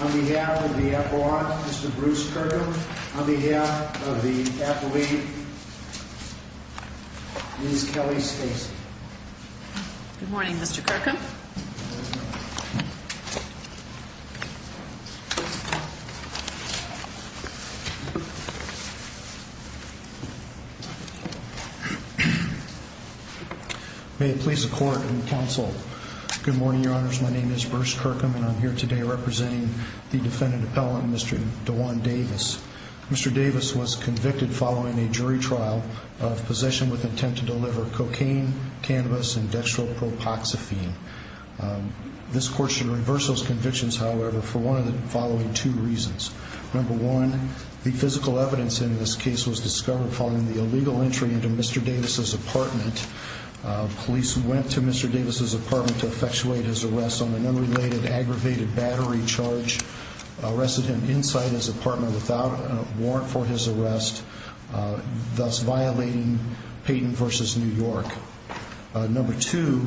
on behalf of the athlete, Ms. Kelly Stacey. Good morning, Mr. Kirkham. My name is Bruce Kirkham and I'm here today representing the defendant appellant, Mr. DeJuan Davis. Mr. Davis was convicted following a jury trial of possession with intent to deliver cocaine, cannabis, and dextropropoxephine. This court should reverse those convictions, however, for one of the following two reasons. Number one, the physical evidence in this case was discovered following the illegal entry into Mr. Davis' apartment. Police went to Mr. Davis' apartment to effectuate his arrest on an unrelated aggravated battery charge, arrested him inside his apartment without a warrant for his arrest, thus violating Payton v. New York. Number two,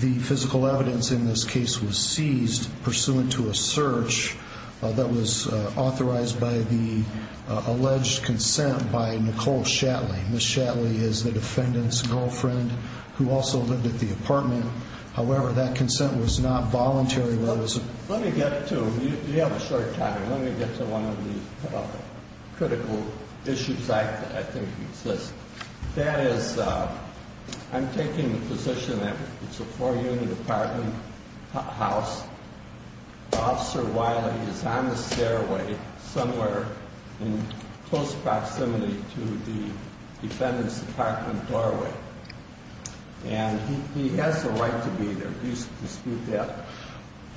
the physical evidence in this case was seized pursuant to a search that was authorized by the alleged consent by Nicole Shatley. Ms. Shatley is the defendant's girlfriend, who also lived at the apartment, however, that consent was not voluntary. Let me get to, you have a short time, let me get to one of the critical issues that I think exists. That is, I'm taking the position that it's a four-unit apartment house. Officer Wiley is on the stairway somewhere in close proximity to the defendant's apartment doorway. And he has the right to be there. Do you dispute that?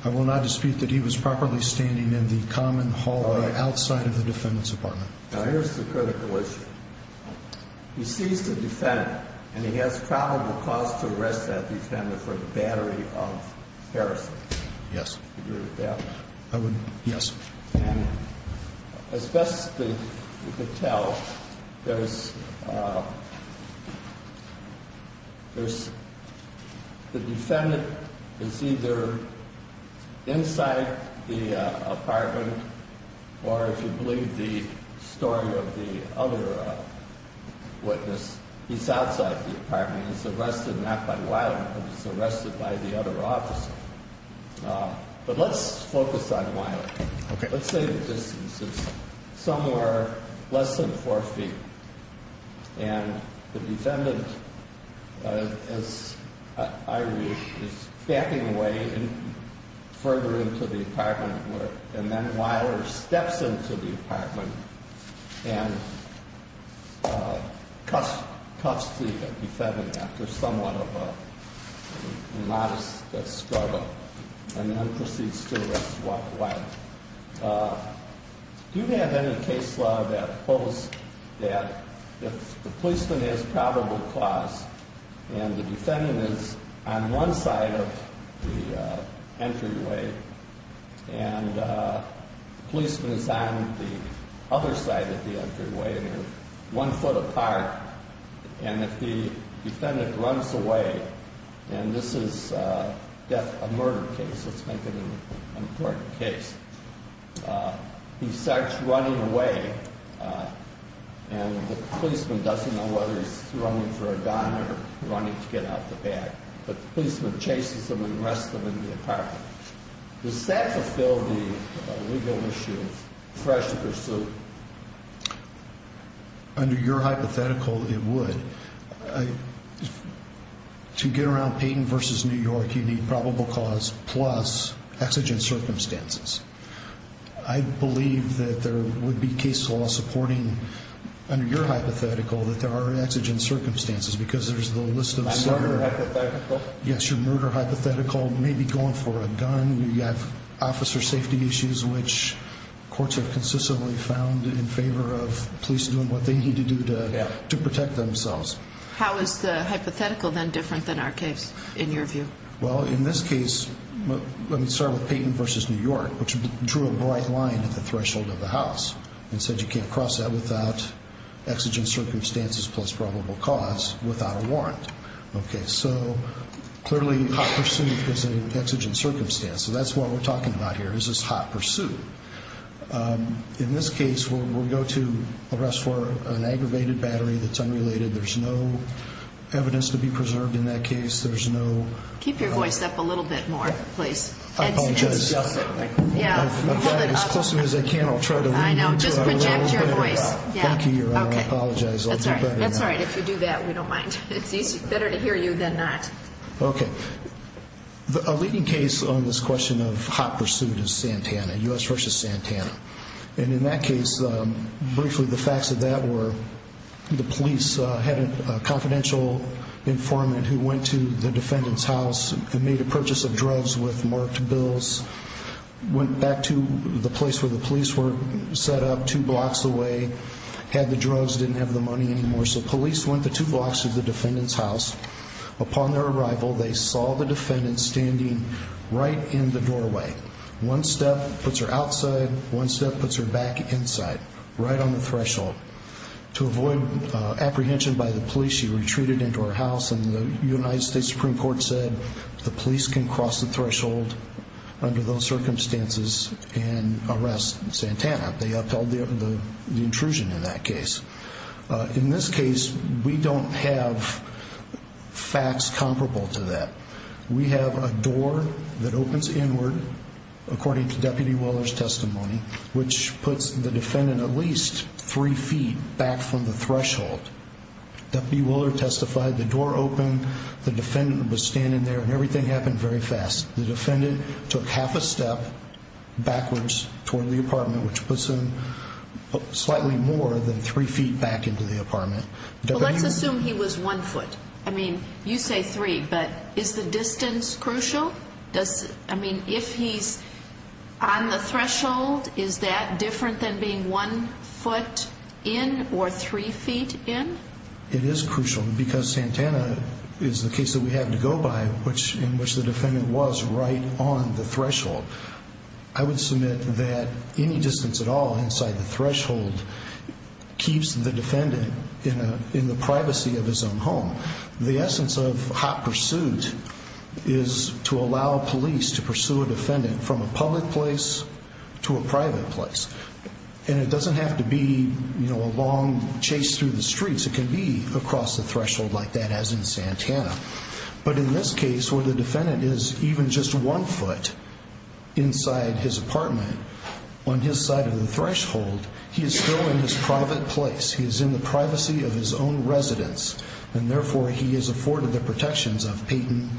I will not dispute that he was properly standing in the common hallway outside of the defendant's apartment. Now, here's the critical issue. He seized a defendant, and he has probable cause to arrest that defendant for the battery of Harrison. And as best as you can tell, the defendant is either inside the apartment or, if you believe the story of the other witness, he's outside the apartment. And the defendant is arrested not by Wiley but he's arrested by the other officer. But let's focus on Wiley. Okay. Let's say the distance is somewhere less than four feet, and the defendant, as I read, is backing away further into the apartment, and then Wiley steps into the apartment and cuffs the defendant after somewhat of a modest struggle, and then proceeds to arrest Wiley. Do you have any case law that holds that if the policeman has probable cause and the defendant is on one side of the entryway, and the policeman is on the other side of the entryway, and he's one foot apart, and if the defendant runs away, and this is a murder case, let's make it an important case, he starts running away, and the policeman doesn't know whether he's running for a gun or running to get out the back. But the policeman chases him and arrests him in the apartment. Does that fulfill the legal issue of fresh pursuit? Under your hypothetical, it would. To get around Payton v. New York, you need probable cause plus exigent circumstances. I believe that there would be case law supporting, under your hypothetical, that there are exigent circumstances, because there's the list of... My murder hypothetical? We have officer safety issues, which courts have consistently found in favor of police doing what they need to do to protect themselves. How is the hypothetical then different than our case, in your view? Well, in this case, let me start with Payton v. New York, which drew a bright line at the threshold of the house, and said you can't cross that without exigent circumstances plus probable cause without a warrant. Okay, so clearly hot pursuit is an exigent circumstance, so that's what we're talking about here, is this hot pursuit. In this case, we'll go to arrest for an aggravated battery that's unrelated. There's no evidence to be preserved in that case. There's no... Keep your voice up a little bit more, please. I apologize. Yeah, hold it up. I've tried as close as I can. I'll try to... I know, just project your voice. Thank you, Your Honor. I apologize. That's all right. If you do that, we don't mind. It's better to hear you than not. Okay. A leading case on this question of hot pursuit is Santana, U.S. v. Santana. And in that case, briefly, the facts of that were the police had a confidential informant who went to the defendant's house and made a purchase of drugs with marked bills, went back to the place where the police were set up two blocks away, had the drugs, didn't have the money anymore. So police went to two blocks of the defendant's house. Upon their arrival, they saw the defendant standing right in the doorway. One step puts her outside, one step puts her back inside, right on the threshold. To avoid apprehension by the police, she retreated into her house, and the United States Supreme Court said the police can cross the threshold under those circumstances and arrest Santana. They upheld the intrusion in that case. In this case, we don't have facts comparable to that. We have a door that opens inward, according to Deputy Willard's testimony, which puts the defendant at least three feet back from the threshold. Deputy Willard testified, the door opened, the defendant was standing there, and everything happened very fast. The defendant took half a step backwards toward the apartment, which puts him slightly more than three feet back into the apartment. Let's assume he was one foot. I mean, you say three, but is the distance crucial? I mean, if he's on the threshold, is that different than being one foot in or three feet in? It is crucial, because Santana is the case that we had to go by, in which the defendant was right on the threshold. I would submit that any distance at all inside the threshold keeps the defendant in the privacy of his own home. The essence of hot pursuit is to allow police to pursue a defendant from a public place to a private place. And it doesn't have to be a long chase through the streets. It can be across the threshold like that, as in Santana. But in this case, where the defendant is even just one foot inside his apartment, on his side of the threshold, he is still in his private place. He is in the privacy of his own residence. And therefore, he is afforded the protections of Payton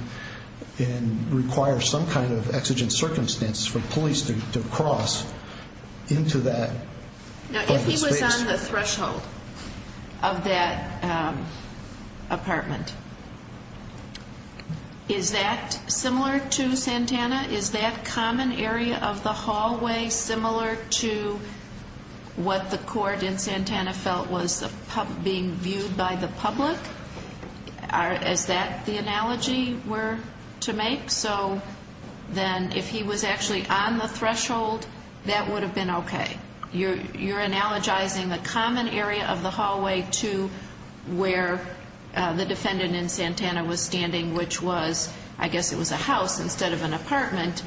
and requires some kind of exigent public space. Now, if he was on the threshold of that apartment, is that similar to Santana? Is that common area of the hallway similar to what the court in Santana felt was being viewed by the public? Is that the analogy we're to make? So then, if he was actually on the threshold, that would have been okay. You're analogizing the common area of the hallway to where the defendant in Santana was standing, which was, I guess it was a house instead of an apartment.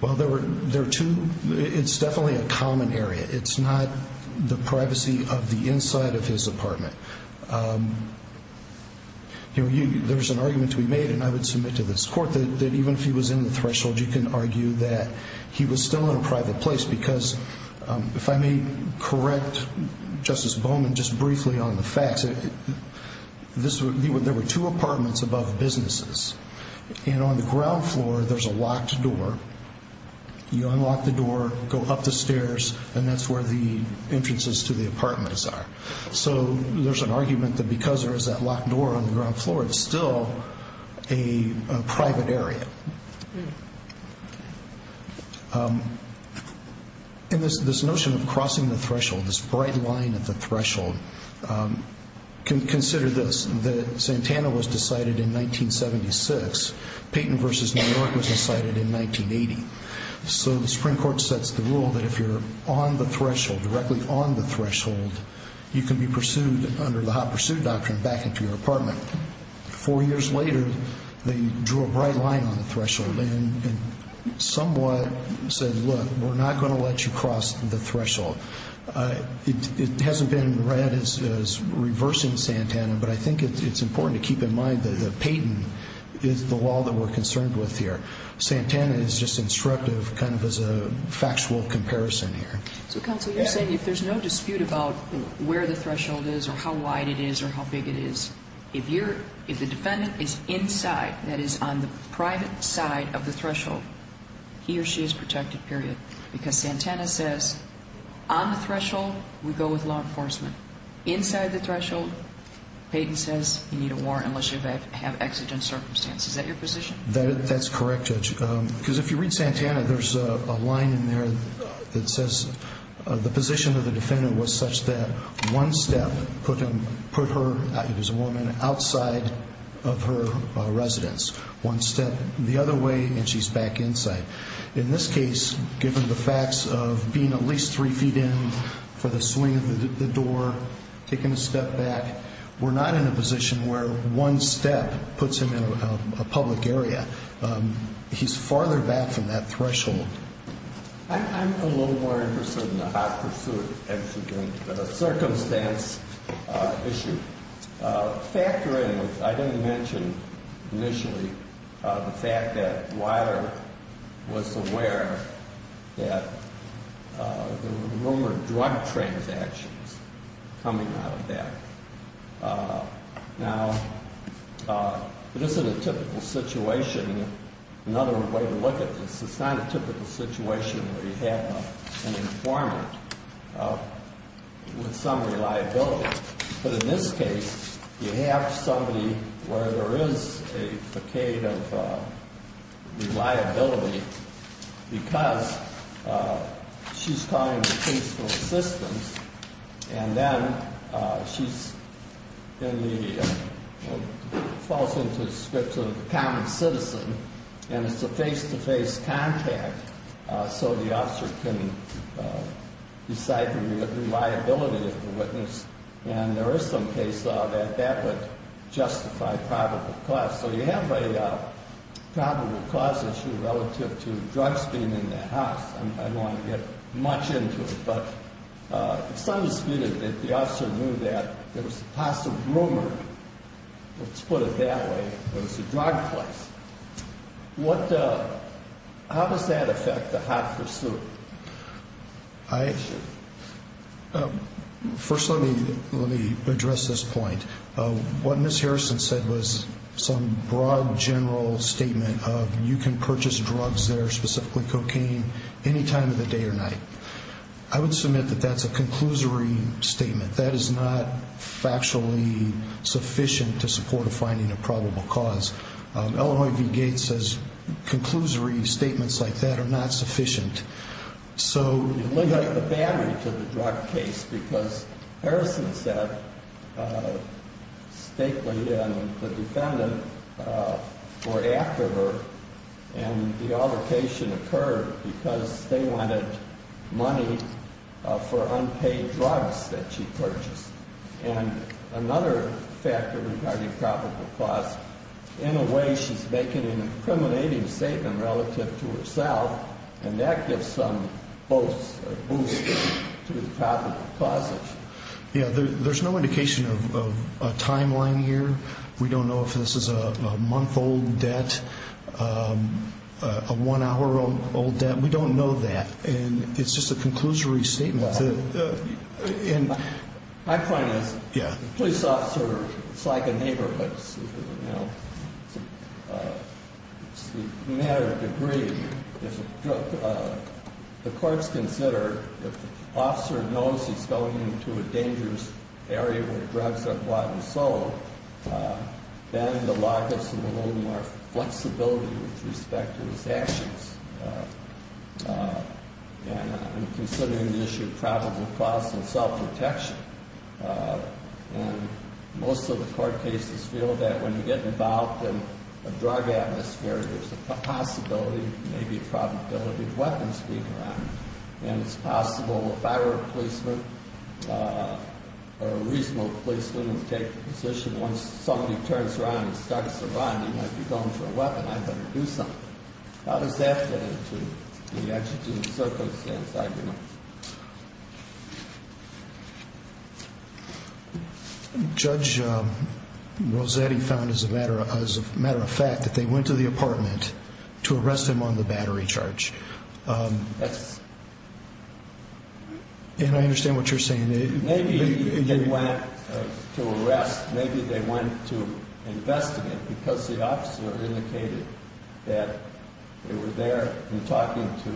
Well, there are two. It's definitely a common area. It's not the privacy of the inside of his apartment. There's an argument to be made, and I would submit to this court, that even if he was in the threshold, you can argue that he was still in a private place. Because if I may correct Justice Bowman just briefly on the facts, there were two apartments above the businesses. And on the ground floor, there's a locked door. You unlock the door, go up the stairs, and that's where the entrances to the apartments are. So there's an argument that because there is that locked door on the ground floor, it's still a private area. And this notion of crossing the threshold, this bright line at the threshold, consider this. Santana was decided in 1976. Payton v. New York was decided in 1980. So the Supreme Court sets the rule that if you're on the threshold, directly on the threshold, you can be pursued under the Hot Pursuit Doctrine back into your apartment. Four years later, they drew a bright line on the threshold and somewhat said, look, we're not going to let you cross the threshold. It hasn't been read as reversing Santana, but I think it's important to keep in mind that Payton is the wall that we're concerned with here. Santana is just instructive, kind of as a factual comparison here. So counsel, you're saying if there's no dispute about where the threshold is or how wide it is or how big it is, if the defendant is inside, that is on the private side of the threshold, he or she is protected, period. Because Santana says, on the threshold, we go with law enforcement. Inside the threshold, Payton says, you need a warrant unless you have exigent circumstances. Is that your position? That's correct, Judge. Because if you read Santana, there's a line in there that says the position of the defendant was such that one step put her, as a woman, outside of her residence. One step the other way and she's back inside. In this case, given the facts of being at least three feet in for the swing of the door, taking a step back, we're not in a position where one step puts him in a public area. He's farther back from that threshold. I'm a little more interested in the hot pursuit exigent circumstance issue. Factoring, I didn't mention initially, the fact that Weiler was aware that there were rumored drug transactions coming out of that. Now, this is a typical situation, another way to look at this. It's not a typical situation where you have an informant with some reliability. But in this case, you have somebody where there is a facade of reliability because she's calling the police for assistance. And then she falls into the scripts of a common citizen. And it's a face-to-face contact so the officer can decide the reliability of the witness. And there is some case that that would justify probable cause. So you have a probable cause issue relative to drugs being in the house. I don't want to get much into it, but it's undisputed that the officer knew that there was a possible rumor, let's put it that way, that it was a drug place. How does that affect the hot pursuit issue? First, let me address this point. What Ms. Harrison said was some broad, general statement of you can purchase drugs there, specifically cocaine, any time of the day or night. I would submit that that's a conclusory statement. That is not factually sufficient to support a finding of probable cause. Illinois v. Gates says conclusory statements like that are not sufficient. So you limit the battery to the drug case because Harrison said Stakely and the defendant were after her and the altercation occurred because they wanted money for unpaid drugs that she purchased. And another factor regarding probable cause, in a way she's making an incriminating statement relative to herself and that gives some boost to the probable cause issue. Yeah, there's no indication of a timeline here. We don't know if this is a month-old debt, a one-hour-old debt. We don't know that and it's just a conclusory statement. My point is the police officer is like a neighbor, it's a matter of degree. The courts consider if the officer knows he's going into a dangerous area where drugs are bought and sold, then the law gives him a little more flexibility with respect to his actions. And considering the issue of probable cause and self-protection, most of the court cases feel that when you get involved in a drug atmosphere, there's a possibility, maybe a probability, of weapons being around. And it's possible if I were a policeman, a reasonable policeman would take the position, once somebody turns around and starts a run, you might be going for a weapon, I'd better do something. How does that fit into the exigent circumstance argument? Judge Rossetti found, as a matter of fact, that they went to the apartment to arrest him on the battery charge. And I understand what you're saying. Maybe they went to arrest, maybe they went to investigate because the officer indicated that they were there and talking to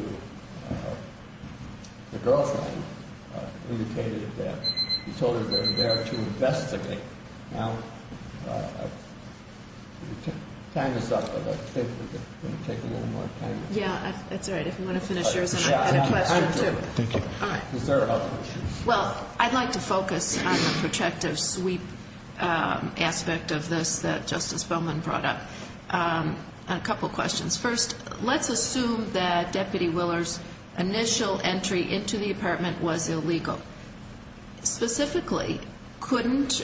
the girlfriend, indicated that he told her they were there to investigate. Now, time is up. I think we're going to take a little more time. Yeah, that's all right. If you want to finish yours, I have a question too. Thank you. All right. Is there other issues? Well, I'd like to focus on the protective sweep aspect of this that Justice Bowman brought up. A couple questions. First, let's assume that Deputy Willer's initial entry into the apartment was illegal. Specifically, couldn't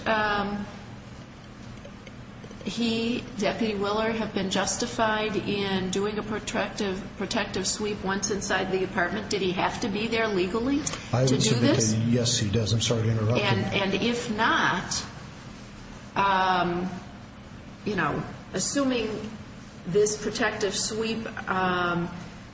he, Deputy Willer, have been justified in doing a protective sweep once inside the apartment? Did he have to be there legally to do this? Yes, he does. I'm sorry to interrupt you. And if not, assuming this protective sweep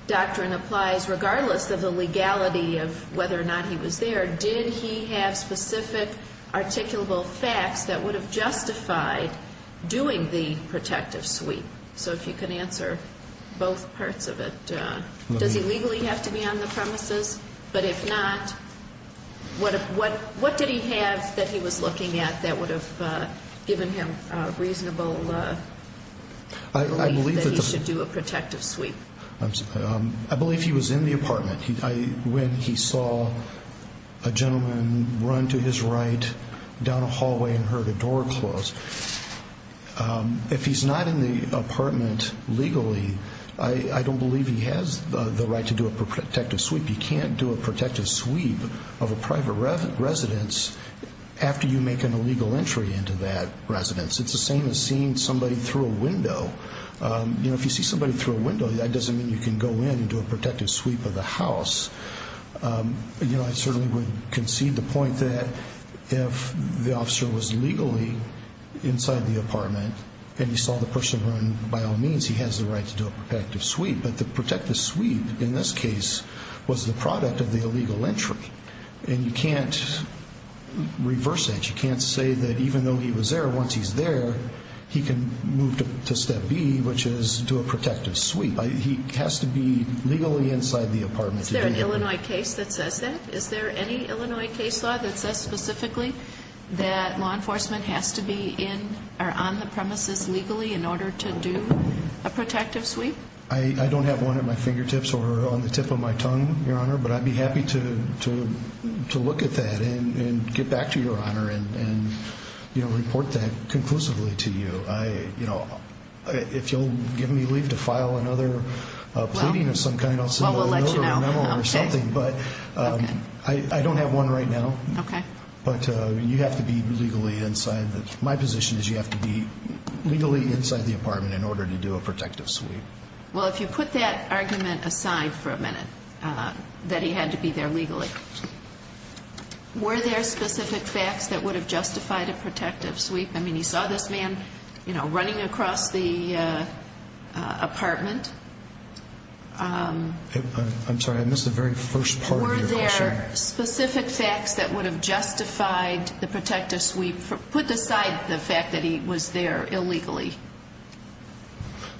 doctrine applies regardless of the legality of whether or not he was there, did he have specific articulable facts that would have justified doing the protective sweep? So if you can answer both parts of it. Does he legally have to be on the premises? But if not, what did he have that he was looking at that would have given him reasonable belief that he should do a protective sweep? I believe he was in the apartment when he saw a gentleman run to his right down a hallway and heard a door close. If he's not in the apartment legally, I don't believe he has the right to do a protective sweep. You can't do a protective sweep of a private residence after you make an illegal entry into that residence. It's the same as seeing somebody through a window. If you see somebody through a window, that doesn't mean you can go in and do a protective sweep of the house. I certainly would concede the point that if the officer was legally inside the apartment and he saw the person run, by all means, he has the right to do a protective sweep. But the protective sweep, in this case, was the product of the illegal entry. And you can't reverse that. You can't say that even though he was there, once he's there, he can move to step B, which is do a protective sweep. He has to be legally inside the apartment to do that. Is there an Illinois case that says that? Is there any Illinois case law that says specifically that law enforcement has to be on the premises legally in order to do a protective sweep? I don't have one at my fingertips or on the tip of my tongue, Your Honor. But I'd be happy to look at that and get back to Your Honor and report that conclusively to you. If you'll give me leave to file another pleading of some kind, I'll send you another memo or something. But I don't have one right now. But you have to be legally inside. My position is you have to be legally inside the apartment in order to do a protective sweep. Well, if you put that argument aside for a minute, that he had to be there legally, were there specific facts that would have justified a protective sweep? I mean, you saw this man, you know, running across the apartment. I'm sorry, I missed the very first part of your question. Were there specific facts that would have justified the protective sweep put aside the fact that he was there illegally?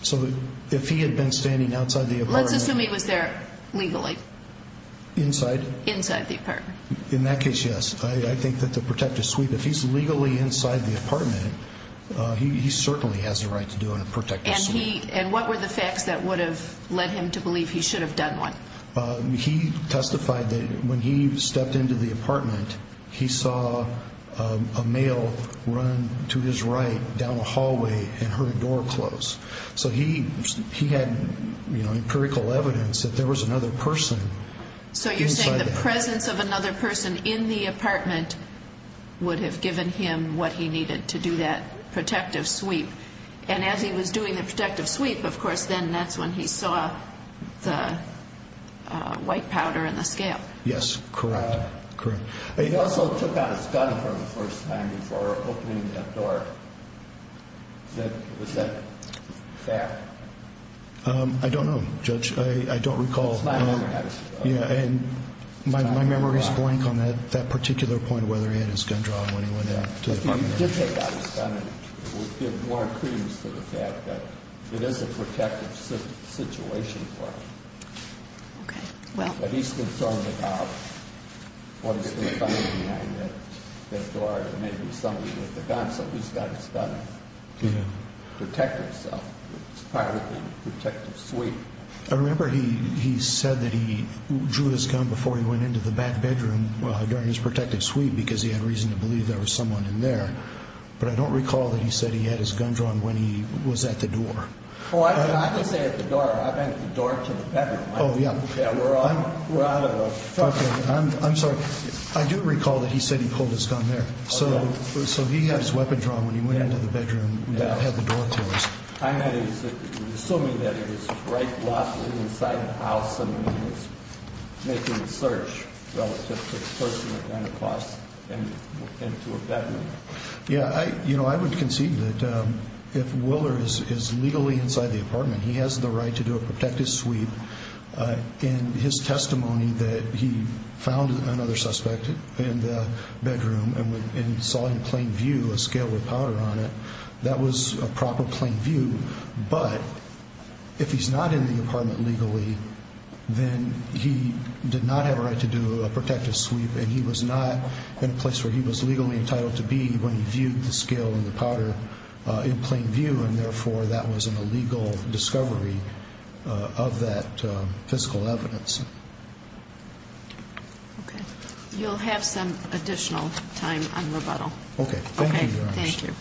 So if he had been standing outside the apartment... Let's assume he was there legally. Inside? Inside the apartment. In that case, yes. I think that the protective sweep, if he's legally inside the apartment, he certainly has a right to do a protective sweep. And what were the facts that would have led him to believe he should have done one? He testified that when he stepped into the apartment, he saw a male run to his right down a hallway and heard a door close. So he had empirical evidence that there was another person inside the apartment. So you're saying the presence of another person in the apartment would have given him what he needed to do that protective sweep. And as he was doing the protective sweep, of course, then that's when he saw the white powder and the scale. Yes, correct. He also took out his gun for the first time for opening that door. Was that a fact? I don't know, Judge. I don't recall. My memory is blank on that particular point whether he had his gun drawn when he went to the apartment. If he did take out his gun, it would give more credence to the fact that it is a protective situation for him. But he's concerned about what he's going to find behind that door that may be somebody with a gun so he's got his gun to protect himself. It's part of the protective sweep. I remember he said that he drew his gun before he went into the back bedroom during his protective sweep because he had reason to believe there was someone in there. But I don't recall that he said he had his gun drawn when he was at the door. Oh, I can say at the door. I meant the door to the bedroom. Oh, yeah. I'm sorry. I do recall that he said he pulled his gun there. So he had his weapon drawn when he went into the bedroom and had the door closed. I'm assuming that it was right left inside the house and he was making a search relative to the person that ran across into a bedroom. Yeah, I would concede that if Willer is legally inside the apartment, he has the right to do a protective sweep. In his testimony that he found another suspect in the bedroom and saw in plain view a scale with powder on it, that was a proper plain view. But if he's not in the apartment legally, then he did not have a right to do a protective sweep and he was not in a place where he was legally entitled to be when he viewed the scale and the powder in plain view and therefore that was an illegal discovery of that physical evidence. Okay. You'll have some additional time on rebuttal. Okay, thank you.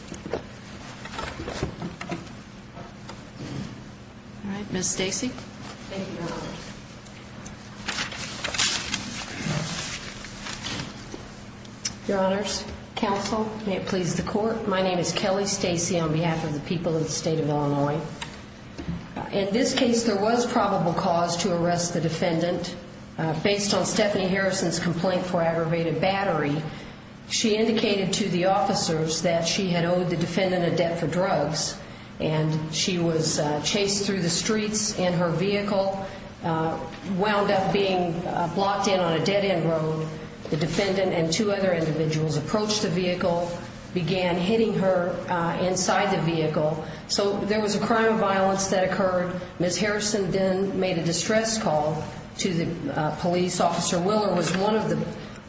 Alright, Ms. Stacey. Your honors, counsel, may it please the court, my name is Kelly Stacey on behalf of the people of the state of Illinois. In this case, there was no probable cause to arrest the defendant based on Stephanie Harrison's complaint for aggravated battery. She indicated to the officers that she had owed the defendant a debt for drugs and she was chased through the streets and her vehicle wound up being blocked in on a dead end road. The defendant and two other individuals approached the vehicle, began hitting her inside the vehicle. So there was a crime of violence that occurred. Ms. Harrison then made a distress call to the police officer. Willer was one of the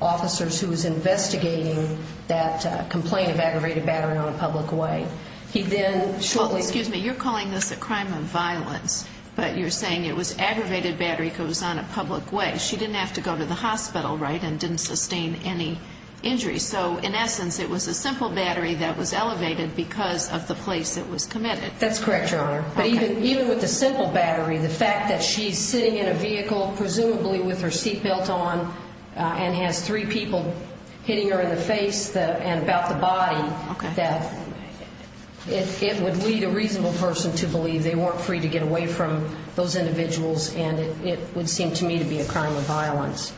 officers who was investigating that complaint of aggravated battery on a public way. You're calling this a crime of violence but you're saying it was aggravated battery because it was on a public way. She didn't have to go to the hospital and didn't sustain any injuries. So in essence, it was a simple battery that was elevated because of the place it was committed. That's correct, Your Honor. Even with the simple battery, the fact that she's sitting in a vehicle presumably with her seatbelt on and has three people hitting her in the face and about the body, it would lead a reasonable person to believe they weren't free to get away from those individuals and it would seem to me to be a crime of violence.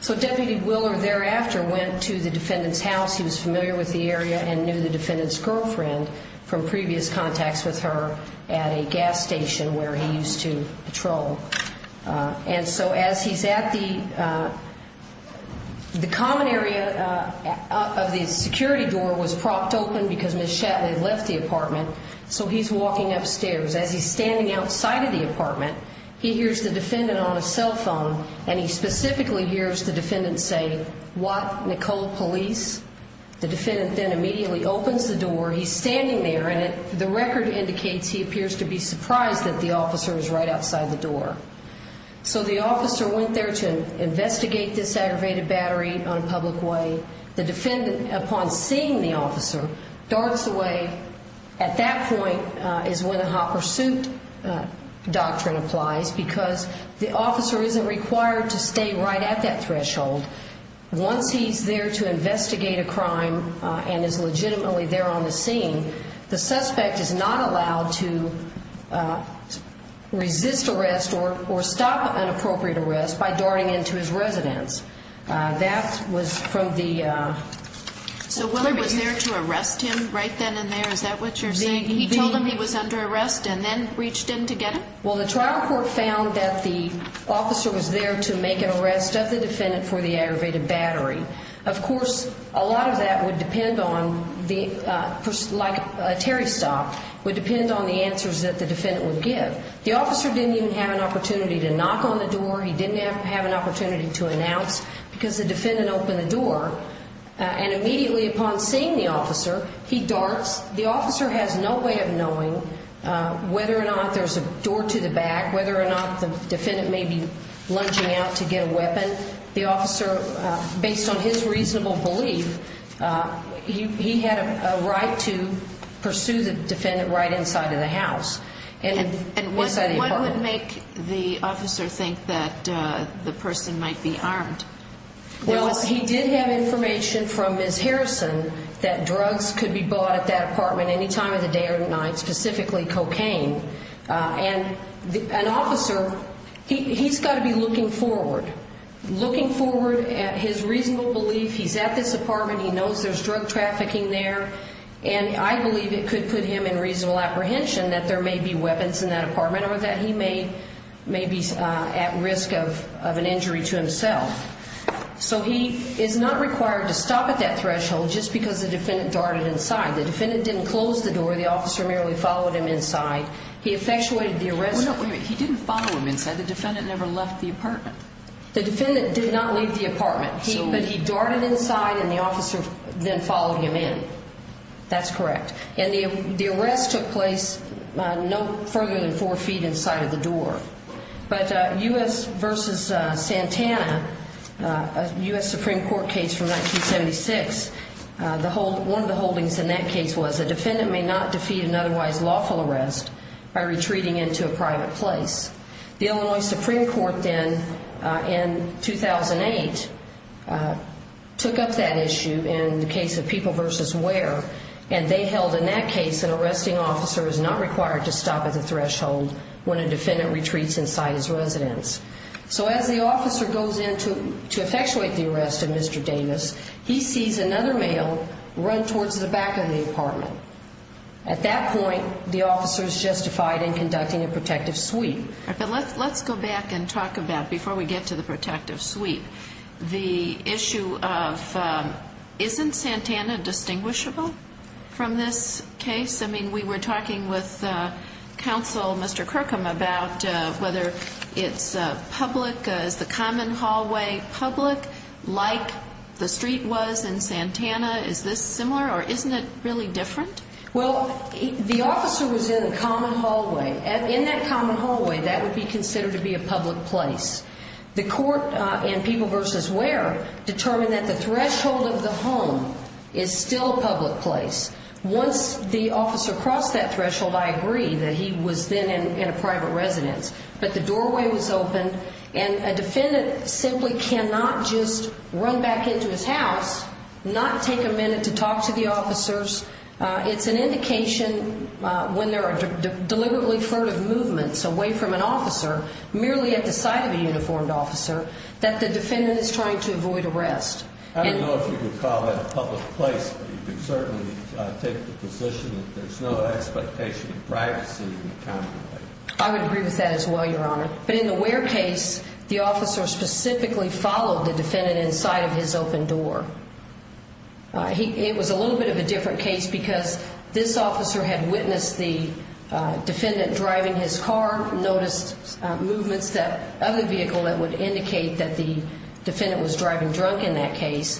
So Deputy Willer thereafter went to the defendant's house. He was familiar with the area and knew the defendant's girlfriend from previous contacts with her at a gas station where he used to patrol. And so as he's at the of the security door was propped open because Ms. Shatley left the apartment, so he's walking upstairs. As he's standing outside of the apartment, he hears the defendant on a cell phone and he specifically hears the defendant say, What? Nicole Police? The defendant then immediately opens the door. He's standing there and the record indicates he appears to be surprised that the officer is right outside the door. So the officer went there to investigate this aggravated battery on a public way. The defendant, upon seeing the officer, darts away. At that point is when a hopper suit doctrine applies because the officer isn't required to stay right at that threshold. Once he's there to investigate a crime and is legitimately there on the scene, the suspect is not allowed to resist arrest or stop an appropriate arrest by darting into his residence. That was from the So Willard was there to arrest him right then and there? Is that what you're saying? He told him he was under arrest and then reached in to get him? Well, the trial court found that the the defendant for the aggravated battery Of course, a lot of that would depend on like a Terry stop would depend on the answers that the defendant would give. The officer didn't even have an opportunity to knock on the door. He didn't have an opportunity to announce because the defendant opened the door and immediately upon seeing the officer, he darts. whether or not there's a door to the back, whether or not the defendant may be lunging out to get a weapon the officer, based on his reasonable belief he had a right to pursue the defendant right inside of the house What would make the officer think that the person might be armed? Well, he did have information from Ms. Harrison that drugs could be bought at that apartment any time of the day or night, specifically cocaine. And an officer he's got to be looking forward. Looking forward at his reasonable belief he's at this apartment, he knows there's drug trafficking there, and I believe it could put him in reasonable apprehension that there may be weapons in that apartment or that he may be at risk of an injury to himself. So he is not required to stop at that threshold just because the defendant darted inside. The defendant didn't close the door the officer merely followed him inside he effectuated the arrest He didn't follow him inside, the defendant never left the apartment. The defendant did not leave the apartment, but he darted inside and the officer then followed him in. That's correct And the arrest took place no further than four feet inside of the door But U.S. v. Santana U.S. Supreme Court case from 1976 one of the holdings in that case was a defendant may not defeat an otherwise lawful arrest by retreating into a private place The Illinois Supreme Court then in 2008 took up that issue in the case of People v. Wear, and they held in that case an arresting officer is not required to stop at the threshold when a defendant retreats inside his residence So as the officer goes in to effectuate the arrest of Mr. Davis, he sees another run towards the back of the apartment. At that point the officer is justified in conducting a protective sweep Let's go back and talk about before we get to the protective sweep the issue of isn't Santana distinguishable from this case? I mean we were talking with counsel Mr. Kirkham about whether it's public, is the common hallway public like the street was in Santana is this similar or isn't it really different? Well the officer was in a common hallway in that common hallway that would be considered to be a public place The court in People v. Wear determined that the threshold of the home is still a public place. Once the officer crossed that threshold, I agree that he was then in a private residence, but the doorway was open and a defendant simply cannot just run back into his house, not take a minute to talk to the officers It's an indication when there are deliberately furtive movements away from an officer merely at the sight of a uniformed officer that the defendant is trying to avoid arrest. I don't know if you could call that a public place, but you can certainly take the position that there's no expectation of privacy in the common hallway. I would agree with that as well your honor, but in the Wear case the officer specifically followed the defendant inside of his open door It was a little bit of a different case because this officer had witnessed the defendant driving his car, noticed movements of the vehicle that would indicate that the defendant was driving drunk in that case,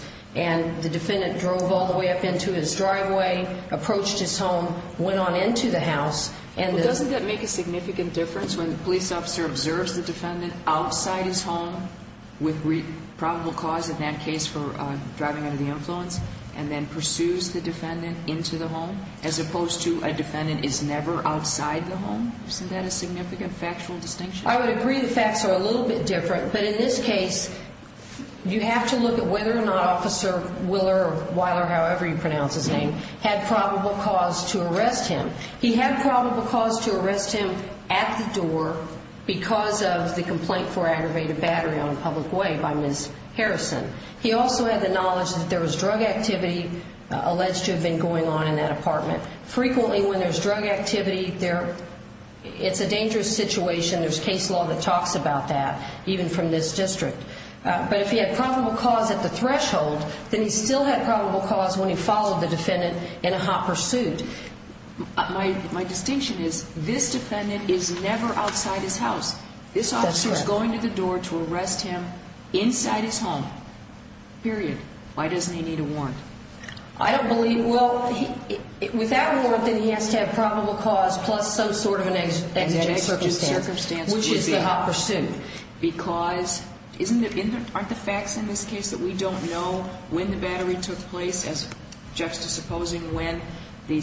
and the defendant drove all the way up into his driveway approached his home went on into the house Doesn't that make a significant difference when the police officer observes the defendant outside his home with probable cause in that case for driving under the influence and then pursues the defendant into the home as opposed to a defendant is never outside the home Isn't that a significant factual distinction? I would agree the facts are a little bit different but in this case you have to look at whether or not officer Willer or Weiler, however you pronounce his name had probable cause to arrest him. He had probable cause to arrest him at the door because of the complaint for aggravated battery on a public way by Ms. Harrison. He also had the knowledge that there was drug activity alleged to have been going on in that apartment. Frequently when there's drug activity it's a dangerous situation, there's case law that talks about that, even from this district. But if he had probable cause at the threshold, then he still had probable cause when he followed the defendant in a hot pursuit My distinction is this defendant is never outside his house. This officer is going to the door to arrest him inside his home period. Why doesn't he need a warrant? I don't believe, well with that warrant then he has to have probable cause plus some sort of an ex-judge circumstance which is the hot pursuit because aren't the facts in this case that we don't know when the battery took place as juxtaposing when the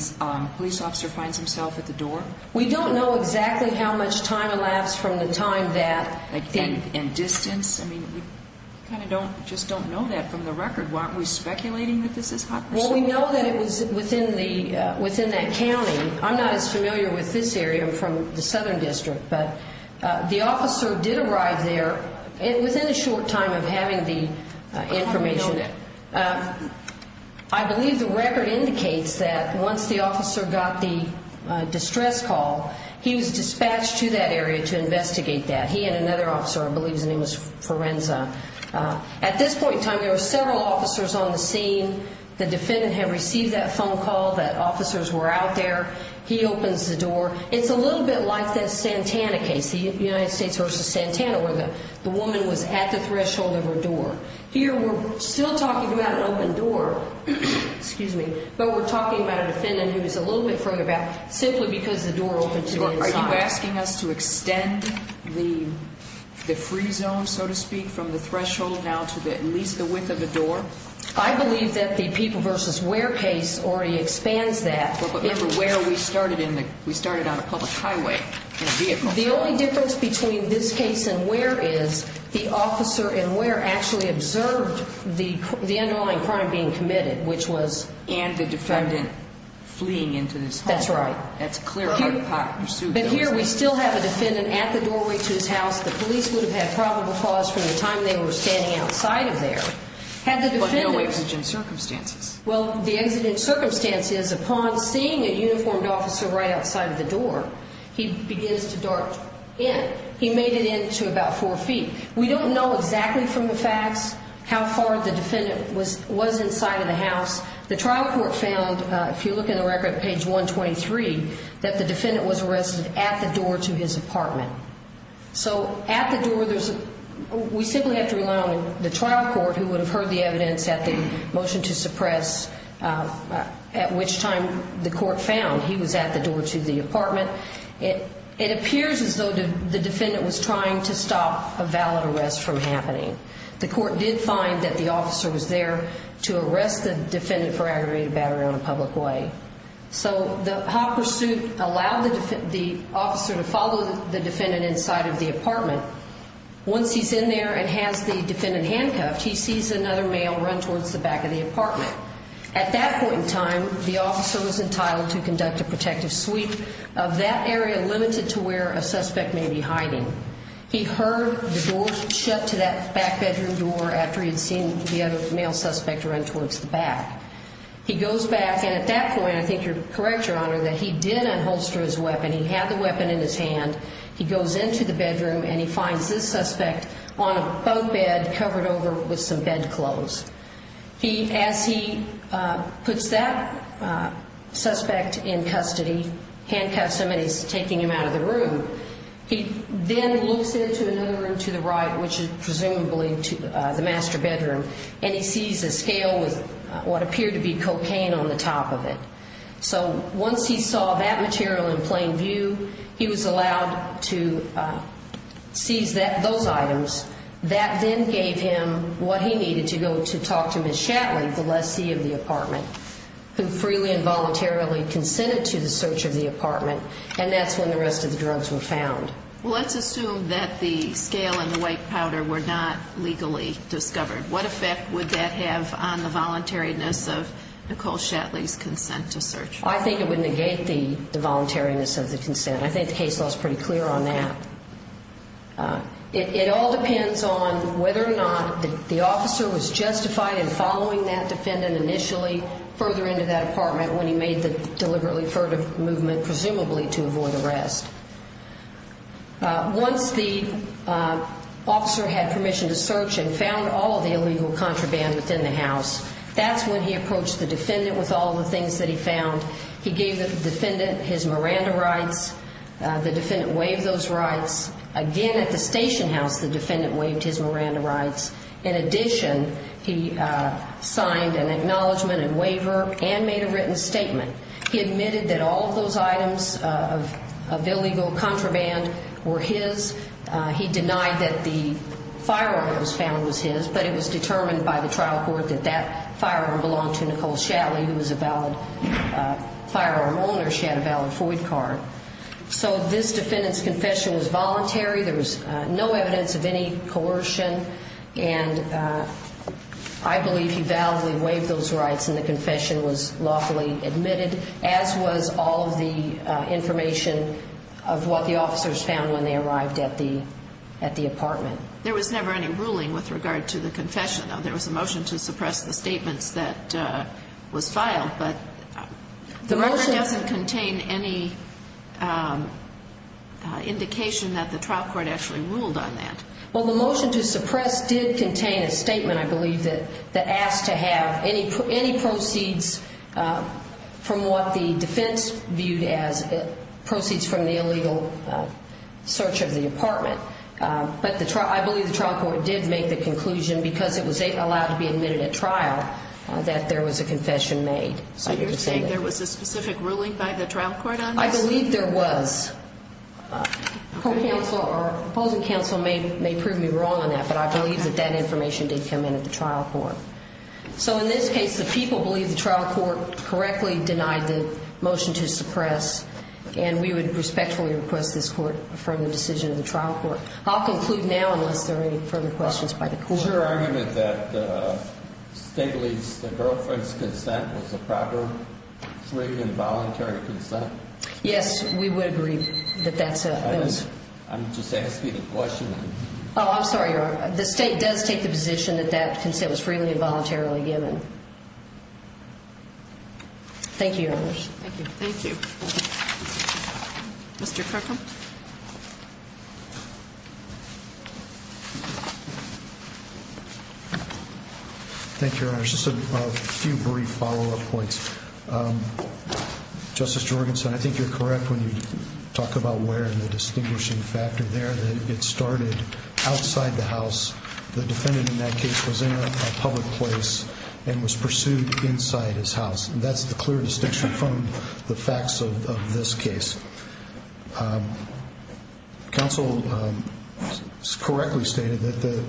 police officer finds himself at the door? We don't know exactly how much time elapsed from the time that... And distance? I mean, we kind of don't know that from the record. Aren't we speculating that this is hot pursuit? We know that it was within that county. I'm not as familiar with this area. I'm from the southern district. The officer did arrive there within a short time of having the information I believe the record indicates that once the officer got the distress call, he was dispatched to that area to investigate that. He and another officer, I believe his name was Forenza. At this point in time there were several officers on the scene. The defendant had received that phone call that officers were out there. He opens the door. It's a little bit like that Santana case, the United States versus Santana where the woman was at the threshold of her door. Here we're still talking about an open door but we're talking about a defendant who's a little bit further back simply because the door opened to the inside. Are you asking us to extend the free zone, so to speak, from the threshold now to at least the width of the door? I believe that the people versus where case already expands that. Remember where we started on a public highway. The only difference between this case and where is the officer in where actually observed the underlying crime being committed, which was And the defendant fleeing into this home. That's right. That's clear. But here we still have a defendant at the doorway to his house. The police would have had probable cause from the time they were standing outside of there. But no way to judge in circumstances. Well, the exit in circumstances is upon seeing a uniformed officer right outside of the door he begins to dart in. He made it into about four feet. We don't know exactly from the facts how far the defendant was inside of the house. The trial court found, if you look in the record page 123, that the defendant was arrested at the door to his apartment. So at the door, we simply have to rely on the trial court who would have heard the evidence at the motion to suppress at which time the court found he was at the door to the apartment. It appears as though the defendant was trying to stop a valid arrest from happening. The court did find that the officer was there to arrest the defendant for aggravated battery on a public way. So the hopper suit allowed the officer to follow the defendant inside of the apartment. Once he's in there and has the defendant handcuffed, he sees another male run towards the back of the apartment. At that point in time, the officer was entitled to that area limited to where a suspect may be hiding. He heard the door shut to that back bedroom door after he had seen the other male suspect run towards the back. He goes back, and at that point I think you're correct, Your Honor, that he did unholster his weapon. He had the weapon in his hand. He goes into the bedroom and he finds this suspect on a boat bed covered over with some bedclothes. As he puts that suspect in custody, handcuffs somebody who's taking him out of the room, he then looks into another room to the right, which is presumably the master bedroom, and he sees a scale with what appeared to be cocaine on the top of it. So once he saw that material in plain view, he was allowed to seize those items. That then gave him what he needed to go to talk to Ms. Shatley, the lessee of the apartment, who freely and voluntarily consented to the search of the apartment, and that's when the rest of the drugs were found. Let's assume that the scale and the white powder were not legally discovered. What effect would that have on the voluntariness of Nicole Shatley's consent to search? I think it would negate the voluntariness of the consent. I think the case law is pretty clear on that. It all depends on whether or not the officer was justified in following that defendant initially further into that apartment when he made the deliberately furtive movement, presumably to avoid arrest. Once the officer had permission to search and found all of the illegal contraband within the house, that's when he approached the defendant with all of the things that he found. He gave the defendant his Miranda rights. The defendant waived those rights. Again, at the station house, the defendant waived his Miranda rights. In addition, he signed an acknowledgement and waiver and made a written statement. He admitted that all of those items of illegal contraband were his. He denied that the firearm that was found was his, but it was determined by the trial court that that firearm belonged to Nicole Shatley, who was a valid firearm owner. She had a valid Freud card. So this defendant's confession was voluntary. There was no evidence of any coercion and I believe he validly waived those rights and the confession was lawfully admitted, as was all of the information of what the officers found when they arrived at the apartment. There was never any ruling with regard to the confession, though. There was a motion to suppress the statements that was filed, but the motion doesn't contain any indication that the trial court actually ruled on that. Well, the motion to suppress did contain a statement, I believe, that asked to have any proceeds from what the defense viewed as proceeds from the illegal search of the apartment. But I believe the trial court did make the conclusion, because it was allowed to be admitted at trial, that there was a confession made. So you're saying there was a specific ruling by the trial court on this? I believe there was. Our opposing counsel may prove me wrong on that, but I believe that that information did come in at the trial court. So in this case, the people believe the trial court correctly denied the motion to suppress and we would respectfully request this court affirm the decision of the trial court. I'll conclude now, unless there are any further questions by the court. Is your argument that Stigley's girlfriend's consent was a proper free and voluntary consent? Yes, we would agree that that's a... I'm just asking a question. Oh, I'm sorry, Your Honor. The state does take the position that that consent was freely and voluntarily given. Thank you, Your Honor. Thank you. Mr. Kirkham? Thank you, Your Honor. Just a few brief follow-up points. Justice Jorgensen, I think you're correct when you talk about where the distinguishing factor there that it started outside the house. The defendant in that case was in a public place and was pursued inside his house. That's the clear distinction from the facts of this case. Counsel correctly stated that the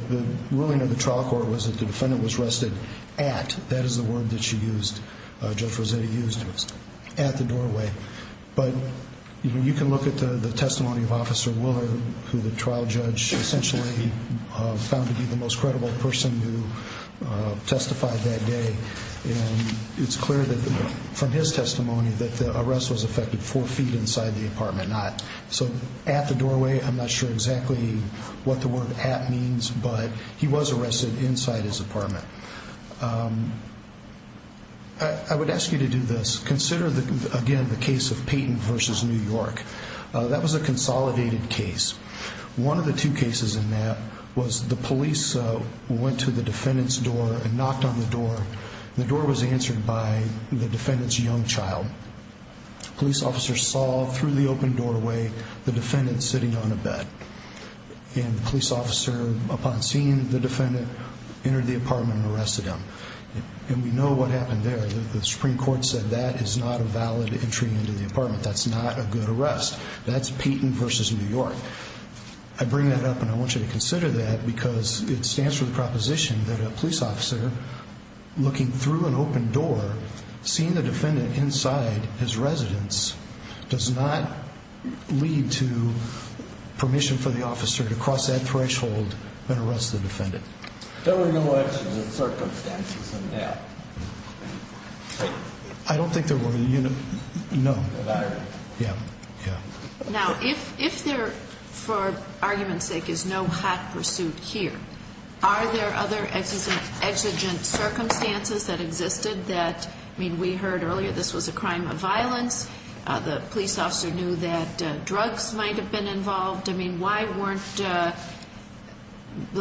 ruling of the trial court was that the defendant was arrested at, that is the word that Judge Rossetti used, at the doorway. But you can look at the testimony of Officer Willer, who the trial judge essentially found to be the most credible person who testified that day, and it's clear that from his testimony that the arrest was effected four feet inside the apartment, not... So, at the doorway, I'm not sure exactly what the word at means, but he was arrested inside his apartment. I would ask you to do this. Consider, again, the case of Peyton v. New York. That was a consolidated case. One of the two cases in that was the police went to the defendant's door and knocked on the door. The door was answered by the defendant's young child. Police officers saw, through the open doorway, the defendant sitting on a bed. And the police officer, upon seeing the defendant, entered the apartment and arrested him. And we know what happened there. The Supreme Court said that is not a valid entry into the apartment. That's not a good arrest. That's Peyton v. New York. I bring that up, and I want you to consider that, because it stands for the proposition that a police officer looking through an open door, seeing the defendant inside his residence, does not lead to permission for the officer to cross that threshold and arrest the defendant. There were no exigent circumstances in that? I don't think there were. No. Yeah. Now, if there, for argument's sake, is no hot pursuit here, are there other exigent circumstances that existed that, I mean, we heard earlier this was a crime of violence, the police officer knew that drugs might have been involved, I mean, why weren't the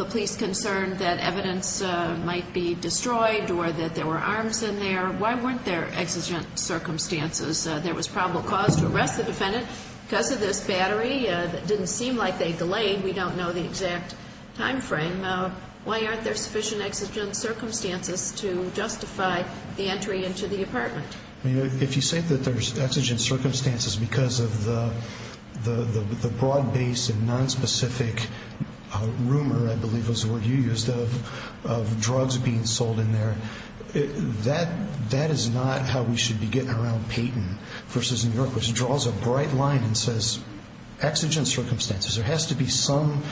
police concerned that evidence might be destroyed or that there were arms in there? Why weren't there exigent circumstances? There was probable cause to arrest the defendant. Because of this battery, it didn't seem like they delayed. We don't know the exact time frame. Why aren't there sufficient exigent circumstances to justify the entry into the apartment? If you say that there's exigent circumstances because of the broad-based and nonspecific rumor, I believe was the word you used, of drugs being sold in there, that is not how we should be getting around Payton versus New York, which draws a bright line and says exigent circumstances. There has to be some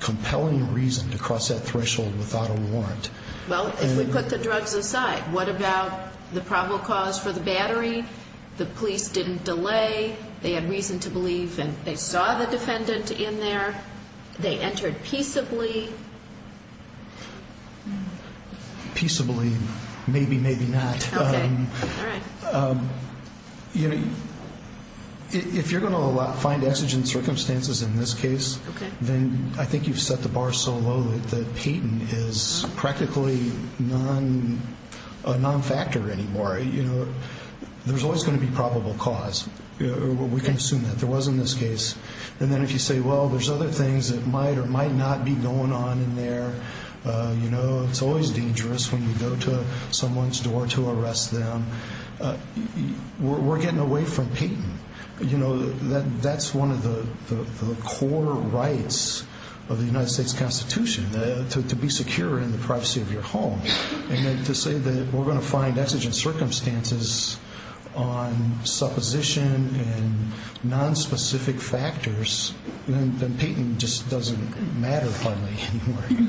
compelling reason to cross that threshold without a warrant. Well, if we put the drugs aside, what about the probable cause for the battery? The police didn't delay. They had the defendant in there. They entered peaceably. Peaceably, maybe, maybe not. If you're going to find exigent circumstances in this case, then I think you've set the bar so low that Payton is practically a non-factor anymore. There's always going to be probable cause. We can assume that. There was in this case. If you say, well, there's other things that might or might not be going on in there, it's always dangerous when you go to someone's door to arrest them. We're getting away from Payton. That's one of the core rights of the United States Constitution, to be secure in the privacy of your home. To say that we're going to find exigent circumstances on supposition and nonspecific factors, then Payton just doesn't matter hardly anymore.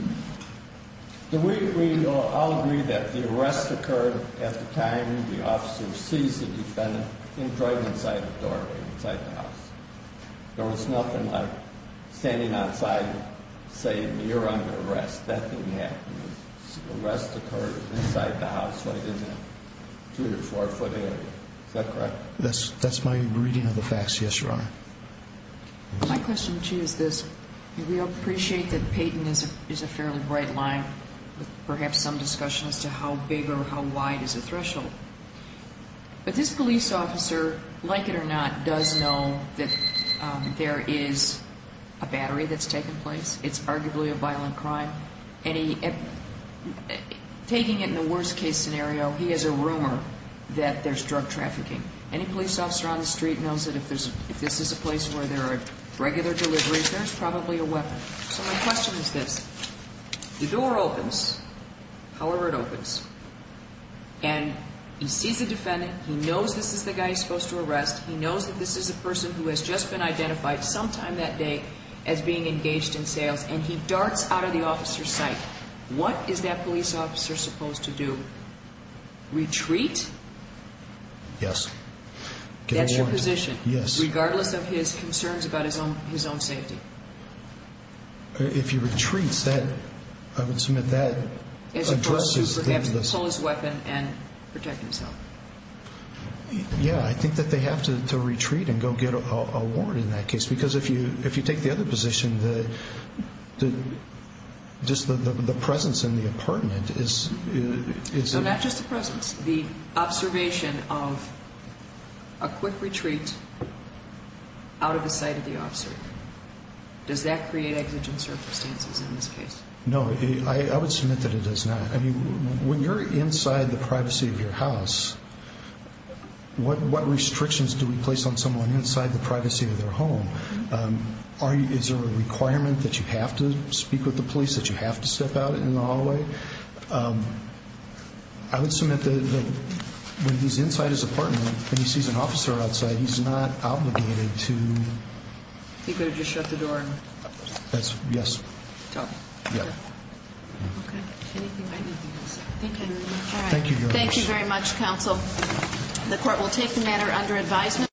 Do we all agree that the arrest occurred at the time the officer sees the defendant in front of the door inside the house? There was nothing like standing outside saying, you're under arrest. The arrest occurred inside the house, right? Two or four foot in. Is that correct? That's my reading of the facts, yes, your honor. My question to you is this. We appreciate that Payton is a fairly bright line with perhaps some discussion as to how big or how wide is the threshold. But this police officer, like it or not, does know that there is a battery that's taken place. It's arguably a violent crime. And he taking it in the worst case scenario, he has a rumor that there's drug trafficking. Any police officer on the street knows that if this is a place where there are regular deliveries, there's probably a weapon. So my question is this. The door opens, however it opens, and he sees the defendant, he knows this is the guy he's supposed to arrest, he knows that this is a person who has just been identified sometime that day as being engaged in sales, and he what is that police officer supposed to do? Retreat? Yes. Get a warrant. Regardless of his concerns about his own safety. If he retreats, I would submit that addresses the... And protect himself. Yeah, I think that they have to retreat and go get a warrant in that case. Because if you take the other position, the presence in the apartment is... So not just the presence, the observation of a quick retreat out of the sight of the officer. Does that create exigent circumstances in this case? No, I would submit that it does not. When you're inside the privacy of your house, what restrictions do we place on someone inside the privacy of their home? Is there a requirement that you have to speak with the police? That you have to step out in the hallway? I would submit that when he's inside his apartment, and he sees an officer outside, he's not obligated to... He could have just shut the door and... Yes. Yeah. Okay. Thank you. Thank you very much, counsel. The court will take the matter under advisement.